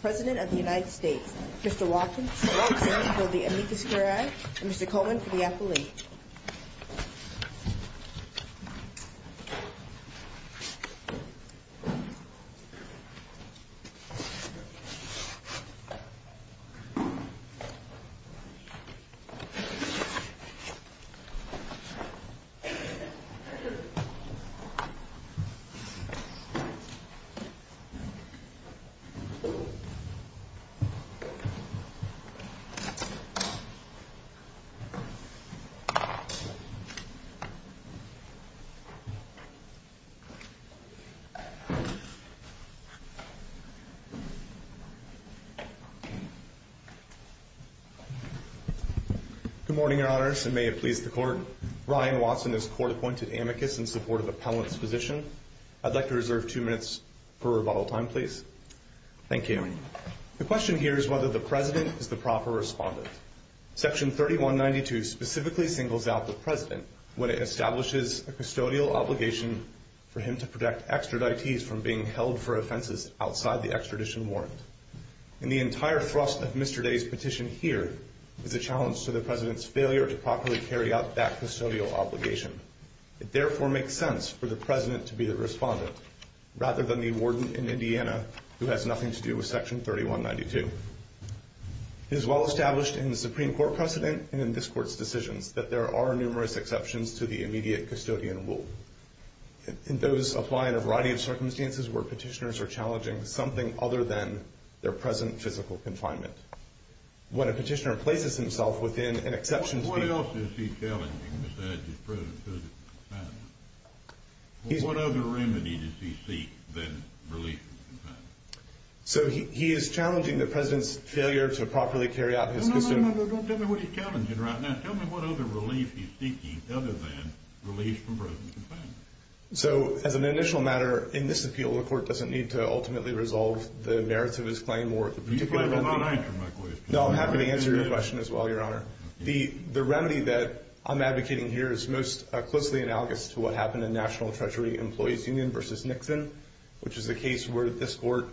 President of the United States, Mr. Watson for the amicus curiae, and Mr. Coleman for the appellate. Good morning, your honors, and may it please the court that I present to you today the report, Ryan Watson is court-appointed amicus in support of appellate's position. I'd like to reserve two minutes for rebuttal time, please. Thank you. The question here is whether the president is the proper respondent. Section 3192 specifically singles out the president when it establishes a custodial obligation for him to protect extraditees from being held for offenses outside the extradition warrant. And the entire thrust of Mr. Day's petition here is a challenge to the president's failure to properly carry out that custodial obligation. It therefore makes sense for the president to be the respondent, rather than the warden in Indiana who has nothing to do with Section 3192. It is well established in the Supreme Court precedent and in this court's decisions that there are numerous exceptions to the immediate custodian rule. And those apply in a variety of circumstances where petitioners are challenging something other than their present physical confinement. What a petitioner places himself within an exception to the... What else is he challenging besides his present physical confinement? What other remedy does he seek than relief from confinement? So he is challenging the president's failure to properly carry out his custom... No, no, no, no, don't tell me what he's challenging right now. Tell me what other relief he's seeking other than relief from present confinement. So, as an initial matter, in this appeal, the court doesn't need to ultimately resolve the merits of his claim or the particular remedy... You might not answer my question. No, I'm happy to answer your question as well, Your Honor. The remedy that I'm advocating here is most closely analogous to what happened in National Treasury Employees Union v. Nixon, which is the case where this court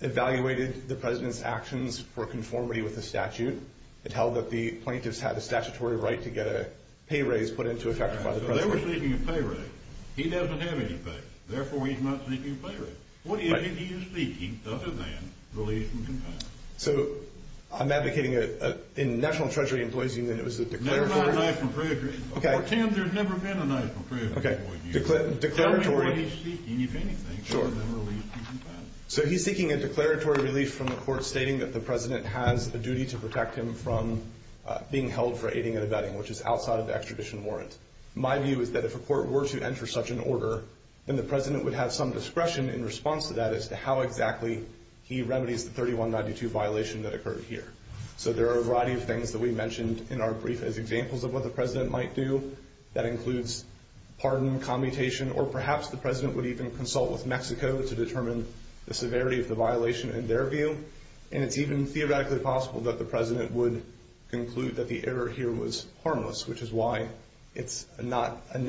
evaluated the president's actions for conformity with the statute. It held that the plaintiffs had a statutory right to get a pay raise put into effect by the president. Well, they were seeking a pay raise. He doesn't have any pay. Therefore, he's not seeking a pay raise. What is it he is seeking other than relief from confinement? So, I'm advocating a... In National Treasury Employees Union, it was a declaratory... No, not National Treasury. Before Tim, there had never been a National Treasury Employees Union. Okay, declaratory... Tell me what he's seeking, if anything, other than relief from confinement. So, he's seeking a declaratory relief from the court stating that the president has a duty to protect him from being held for aiding and abetting, which is outside of the extradition warrant. My view is that if a court were to enter such an order, then the president would have some discretion in response to that as to how exactly he remedies the 3192 violation that occurred here. So, there are a variety of things that we mentioned in our brief as examples of what the president might do. That includes pardon, commutation, or perhaps the president would even consult with Mexico to determine the severity of the violation in their view. And it's even theoretically possible that the president would conclude that the error here was harmless, which is why it's not going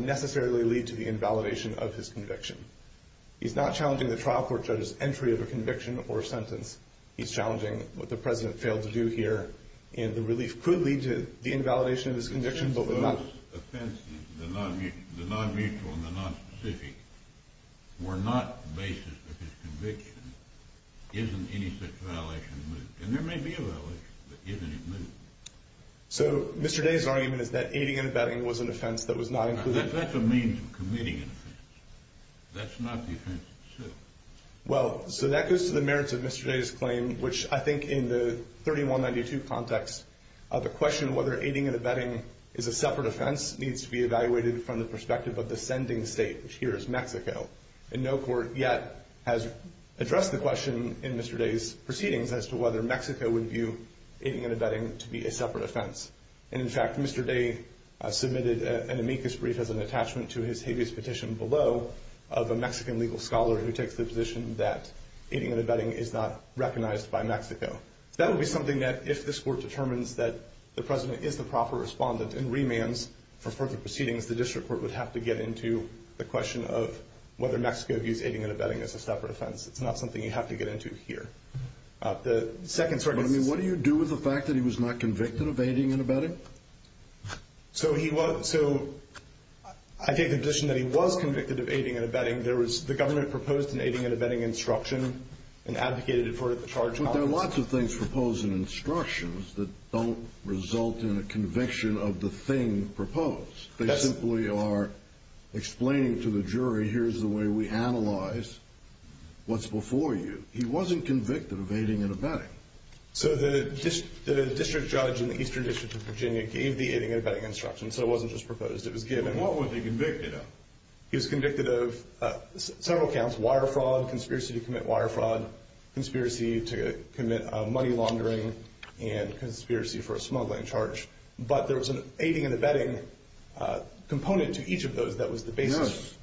to necessarily lead to the invalidation of his conviction. He's not challenging the trial court judge's entry of a conviction or a sentence. He's challenging what the president failed to do here, and the relief could lead to the invalidation of his conviction, but would not... If those offenses, the non-mutual and the non-specific, were not the basis of his conviction, isn't any such violation moot? And there may be a violation, but isn't it moot? So, Mr. Day's argument is that aiding and abetting was an offense that was not included... That's a means of committing an offense. That's not the offense itself. Well, so that goes to the merits of Mr. Day's claim, which I think in the 3192 context, the question of whether aiding and abetting is a separate offense needs to be evaluated from the perspective of the sending state, which here is Mexico. And no court yet has addressed the question in Mr. Day's proceedings as to whether Mexico would view aiding and abetting to be a separate offense. And, in fact, Mr. Day submitted an amicus brief as an attachment to his habeas petition below of a Mexican legal scholar who takes the position that aiding and abetting is not recognized by Mexico. That would be something that if this court determines that the president is the proper respondent and remands for further proceedings, the district court would have to get into the question of whether Mexico views aiding and abetting as a separate offense. It's not something you have to get into here. What do you do with the fact that he was not convicted of aiding and abetting? So I take the position that he was convicted of aiding and abetting. The government proposed an aiding and abetting instruction and advocated it for the charge. But there are lots of things proposed in instructions that don't result in a conviction of the thing proposed. They simply are explaining to the jury, here's the way we analyze what's before you. He wasn't convicted of aiding and abetting. So the district judge in the Eastern District of Virginia gave the aiding and abetting instruction, so it wasn't just proposed, it was given. What was he convicted of? He was convicted of several counts, wire fraud, conspiracy to commit wire fraud, conspiracy to commit money laundering, and conspiracy for a smuggling charge. But there was an aiding and abetting component to each of those that was the basis. Yes,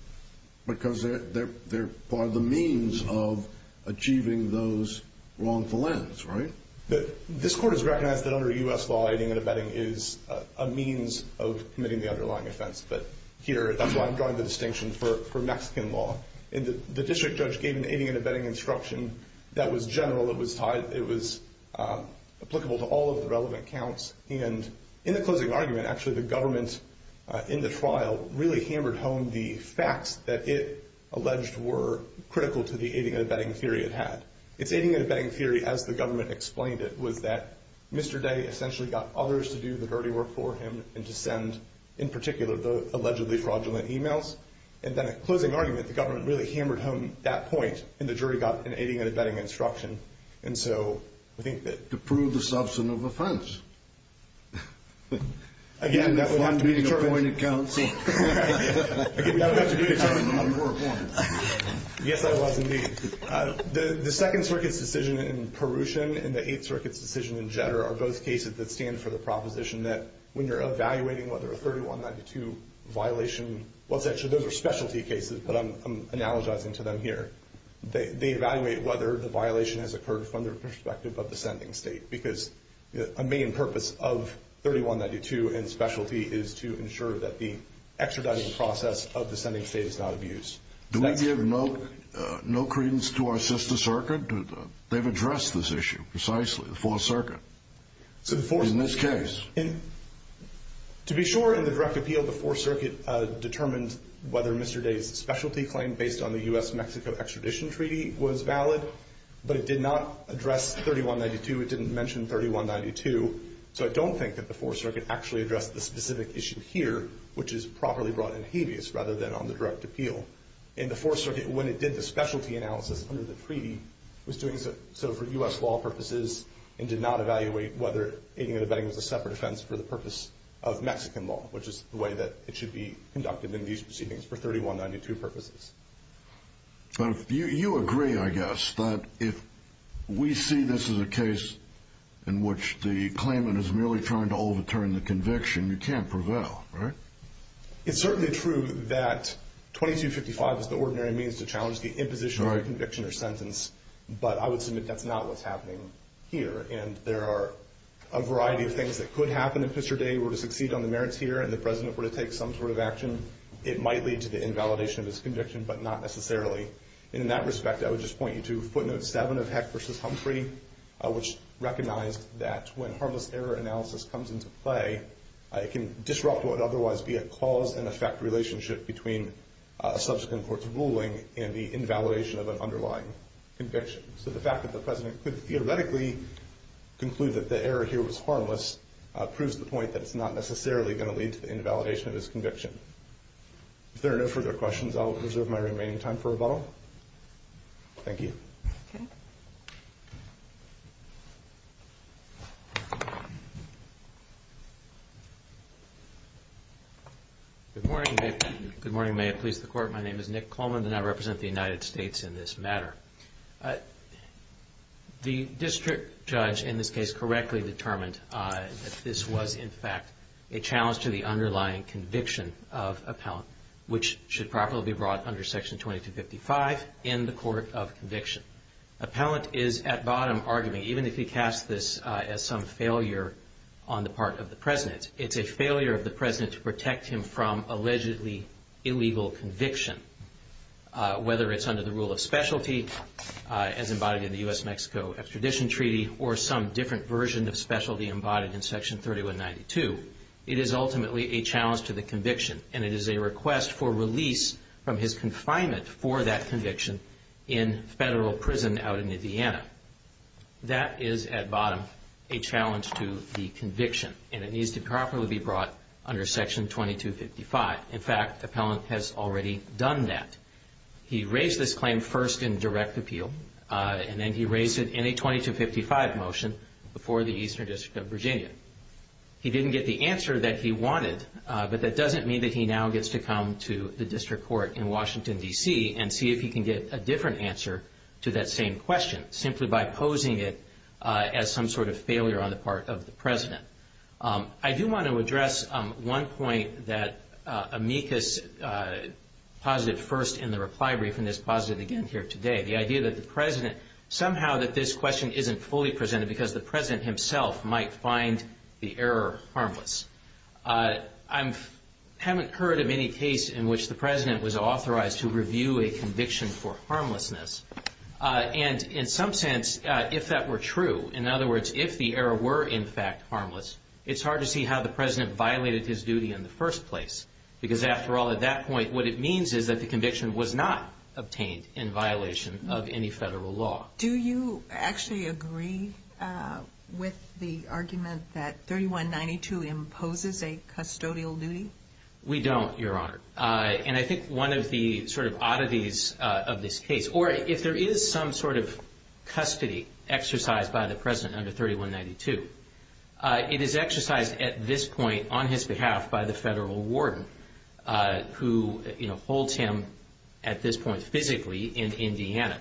because they're part of the means of achieving those wrongful ends, right? This court has recognized that under U.S. law, aiding and abetting is a means of committing the underlying offense. But here, that's why I'm drawing the distinction for Mexican law. The district judge gave an aiding and abetting instruction that was general, it was applicable to all of the relevant counts. And in the closing argument, actually, the government in the trial really hammered home the facts that it alleged were critical to the aiding and abetting theory it had. Its aiding and abetting theory, as the government explained it, was that Mr. Day essentially got others to do the dirty work for him and to send, in particular, the allegedly fraudulent emails. And then at closing argument, the government really hammered home that point, and the jury got an aiding and abetting instruction. And so, I think that... To prove the substance of offense. Again, that would have to be a... You were appointed counsel. Yes, I was indeed. The Second Circuit's decision in Perusian and the Eighth Circuit's decision in Jetter are both cases that stand for the proposition that when you're evaluating whether a 3192 violation, well, those are specialty cases, but I'm analogizing to them here. They evaluate whether the violation has occurred from the perspective of the sending state. Because a main purpose of 3192 and specialty is to ensure that the extraditing process of the sending state is not abused. Do we give no credence to our sister circuit? They've addressed this issue precisely, the Fourth Circuit, in this case. To be sure, in the direct appeal, the Fourth Circuit determined whether Mr. Day's specialty claim based on the U.S.-Mexico extradition treaty was valid. But it did not address 3192. It didn't mention 3192. So, I don't think that the Fourth Circuit actually addressed the specific issue here, which is properly brought in habeas, rather than on the direct appeal. In the Fourth Circuit, when it did the specialty analysis under the treaty, it was doing so for U.S. law purposes and did not evaluate whether aiding and abetting was a separate offense for the purpose of Mexican law, which is the way that it should be conducted in these proceedings for 3192 purposes. But you agree, I guess, that if we see this as a case in which the claimant is merely trying to overturn the conviction, you can't prevail, right? It's certainly true that 2255 is the ordinary means to challenge the imposition of a conviction or sentence, but I would submit that's not what's happening here. And there are a variety of things that could happen if Mr. Day were to succeed on the merits here and the President were to take some sort of action. It might lead to the invalidation of his conviction, but not necessarily. And in that respect, I would just point you to footnote 7 of Heck v. Humphrey, which recognized that when harmless error analysis comes into play, it can disrupt what would otherwise be a cause-and-effect relationship between a subsequent court's ruling and the invalidation of an underlying conviction. So the fact that the President could theoretically conclude that the error here was harmless proves the point that it's not necessarily going to lead to the invalidation of his conviction. If there are no further questions, I'll reserve my remaining time for rebuttal. Thank you. Okay. Good morning. Good morning. May it please the Court. My name is Nick Coleman, and I represent the United States in this matter. The district judge in this case correctly determined that this was, in fact, a challenge to the underlying conviction of appellant, which should properly be brought under Section 2255 in the Court of Conviction. Appellant is, at bottom, arguing, even if he casts this as some failure on the part of the President, it's a failure of the President to protect him from allegedly illegal conviction. Whether it's under the rule of specialty, as embodied in the U.S.-Mexico Extradition Treaty, or some different version of specialty embodied in Section 3192, it is ultimately a challenge to the conviction, and it is a request for release from his confinement for that conviction in federal prison out in Indiana. That is, at bottom, a challenge to the conviction, and it needs to properly be brought under Section 2255. In fact, the appellant has already done that. He raised this claim first in direct appeal, and then he raised it in a 2255 motion before the Eastern District of Virginia. He didn't get the answer that he wanted, but that doesn't mean that he now gets to come to the District Court in Washington, D.C., and see if he can get a different answer to that same question, simply by posing it as some sort of failure on the part of the President. I do want to address one point that amicus positive first in the reply brief, and it's positive again here today, the idea that the President, somehow that this question isn't fully presented because the President himself might find the error harmless. I haven't heard of any case in which the President was authorized to review a conviction for harmlessness, and in some sense, if that were true, in other words, if the error were in fact harmless, it's hard to see how the President violated his duty in the first place, because after all, at that point, what it means is that the conviction was not obtained in violation of any federal law. Do you actually agree with the argument that 3192 imposes a custodial duty? We don't, Your Honor, and I think one of the sort of oddities of this case, or if there is some sort of custody exercised by the President under 3192, it is exercised at this point on his behalf by the federal warden who holds him at this point physically in Indiana.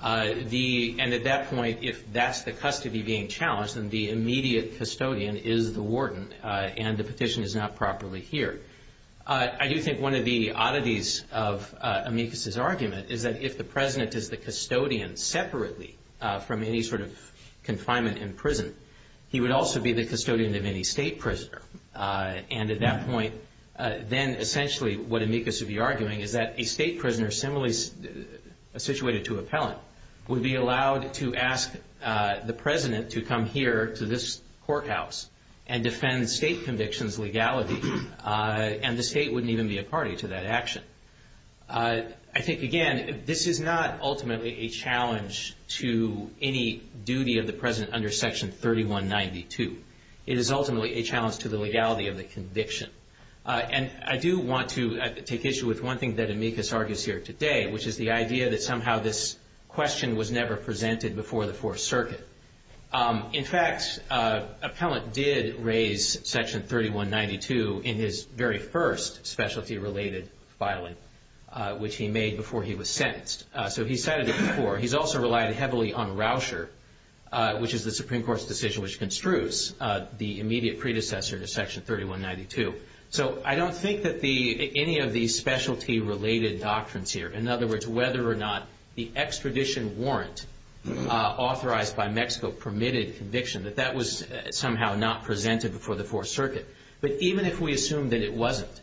And at that point, if that's the custody being challenged, then the immediate custodian is the warden and the petition is not properly here. I do think one of the oddities of Amicus's argument is that if the President is the custodian separately from any sort of confinement in prison, he would also be the custodian of any state prisoner. And at that point, then essentially what Amicus would be arguing is that a state prisoner similarly situated to appellant would be allowed to ask the President to come here to this courthouse and defend state conviction's legality, and the state wouldn't even be a party to that action. I think, again, this is not ultimately a challenge to any duty of the President under Section 3192. It is ultimately a challenge to the legality of the conviction. And I do want to take issue with one thing that Amicus argues here today, which is the idea that somehow this question was never presented before the Fourth Circuit. In fact, appellant did raise Section 3192 in his very first specialty-related filing, which he made before he was sentenced. So he cited it before. He's also relied heavily on Rauscher, which is the Supreme Court's decision which construes the immediate predecessor to Section 3192. So I don't think that any of these specialty-related doctrines here, in other words, whether or not the extradition warrant authorized by Mexico permitted conviction, that that was somehow not presented before the Fourth Circuit. But even if we assume that it wasn't,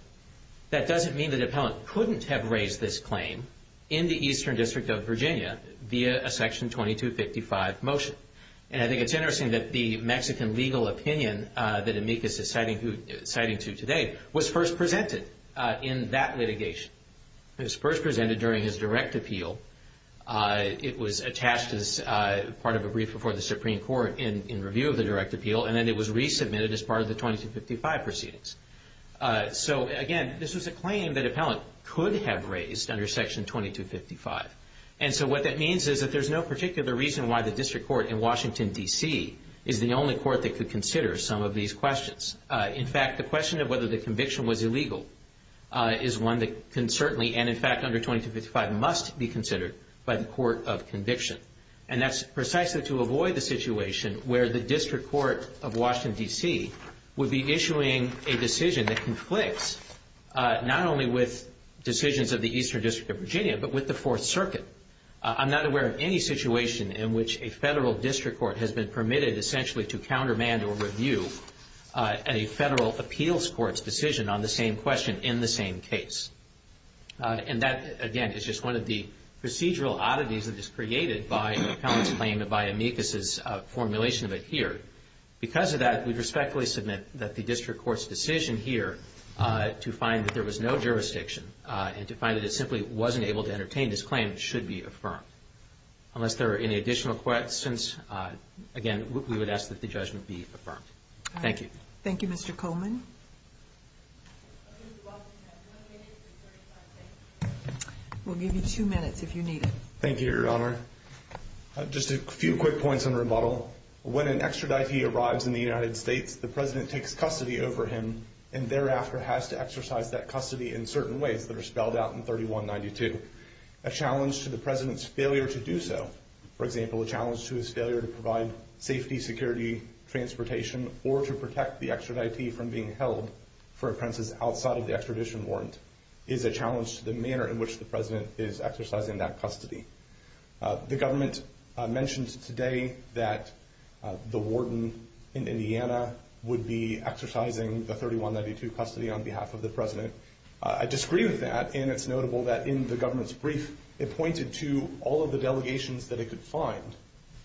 that doesn't mean that appellant couldn't have raised this claim in the Eastern District of Virginia via a Section 2255 motion. And I think it's interesting that the Mexican legal opinion that Amicus is citing to today was first presented in that litigation. It was first presented during his direct appeal. It was attached as part of a brief before the Supreme Court in review of the direct appeal, and then it was resubmitted as part of the 2255 proceedings. So, again, this was a claim that appellant could have raised under Section 2255. And so what that means is that there's no particular reason why the district court in Washington, D.C. is the only court that could consider some of these questions. In fact, the question of whether the conviction was illegal is one that can certainly, and in fact under 2255, must be considered by the court of conviction. And that's precisely to avoid the situation where the district court of Washington, D.C. would be issuing a decision that conflicts not only with decisions of the Eastern District of Virginia but with the Fourth Circuit. I'm not aware of any situation in which a federal district court has been permitted essentially to countermand or review a federal appeals court's decision on the same question in the same case. And that, again, is just one of the procedural oddities that is created by the appellant's claim and by Amicus's formulation of it here. Because of that, we respectfully submit that the district court's decision here to find that there was no jurisdiction and to find that it simply wasn't able to entertain this claim should be affirmed. Unless there are any additional questions, again, we would ask that the judgment be affirmed. Thank you. Thank you, Mr. Coleman. We'll give you two minutes if you need it. Thank you, Your Honor. Just a few quick points on rebuttal. When an extraditee arrives in the United States, the President takes custody over him and thereafter has to exercise that custody in certain ways that are spelled out in 3192. A challenge to the President's failure to do so, for example, a challenge to his failure to provide safety, security, transportation, or to protect the extraditee from being held for appearances outside of the extradition warrant, is a challenge to the manner in which the President is exercising that custody. The government mentioned today that the warden in Indiana would be exercising the 3192 custody on behalf of the President. I disagree with that, and it's notable that in the government's brief, it pointed to all of the delegations that it could find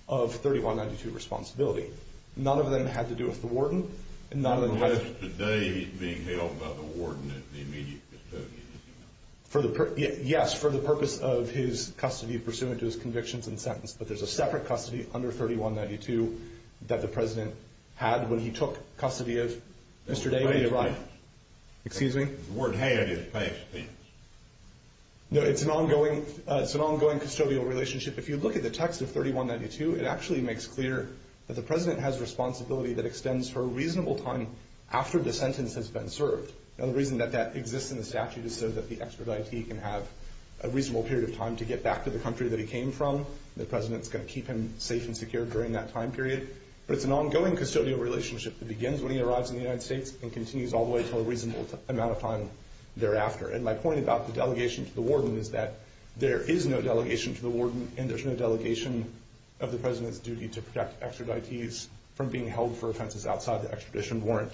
of 3192 responsibility. None of them had to do with the warden. Nonetheless, today he's being held by the warden as the immediate custodian. Yes, for the purpose of his custody pursuant to his convictions and sentence, but there's a separate custody under 3192 that the President had when he took custody of Mr. David Wright. Excuse me? No, it's an ongoing custodial relationship. If you look at the text of 3192, it actually makes clear that the President has responsibility that extends for a reasonable time after the sentence has been served. Now, the reason that that exists in the statute is so that the extraditee can have a reasonable period of time to get back to the country that he came from. The President's going to keep him safe and secure during that time period. But it's an ongoing custodial relationship that begins when he arrives in the United States and continues all the way until a reasonable amount of time thereafter. And my point about the delegation to the warden is that there is no delegation to the warden, and there's no delegation of the President's duty to protect extraditees from being held for offenses outside the extradition warrant.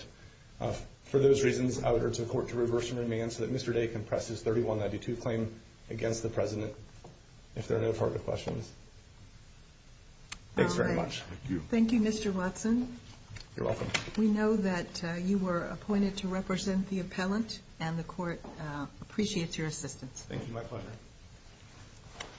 For those reasons, I would urge the Court to reverse and remand so that Mr. Day can press his 3192 claim against the President if there are no further questions. Thanks very much. Thank you. Thank you, Mr. Watson. You're welcome. We know that you were appointed to represent the appellant, and the Court appreciates your assistance. Thank you. My pleasure.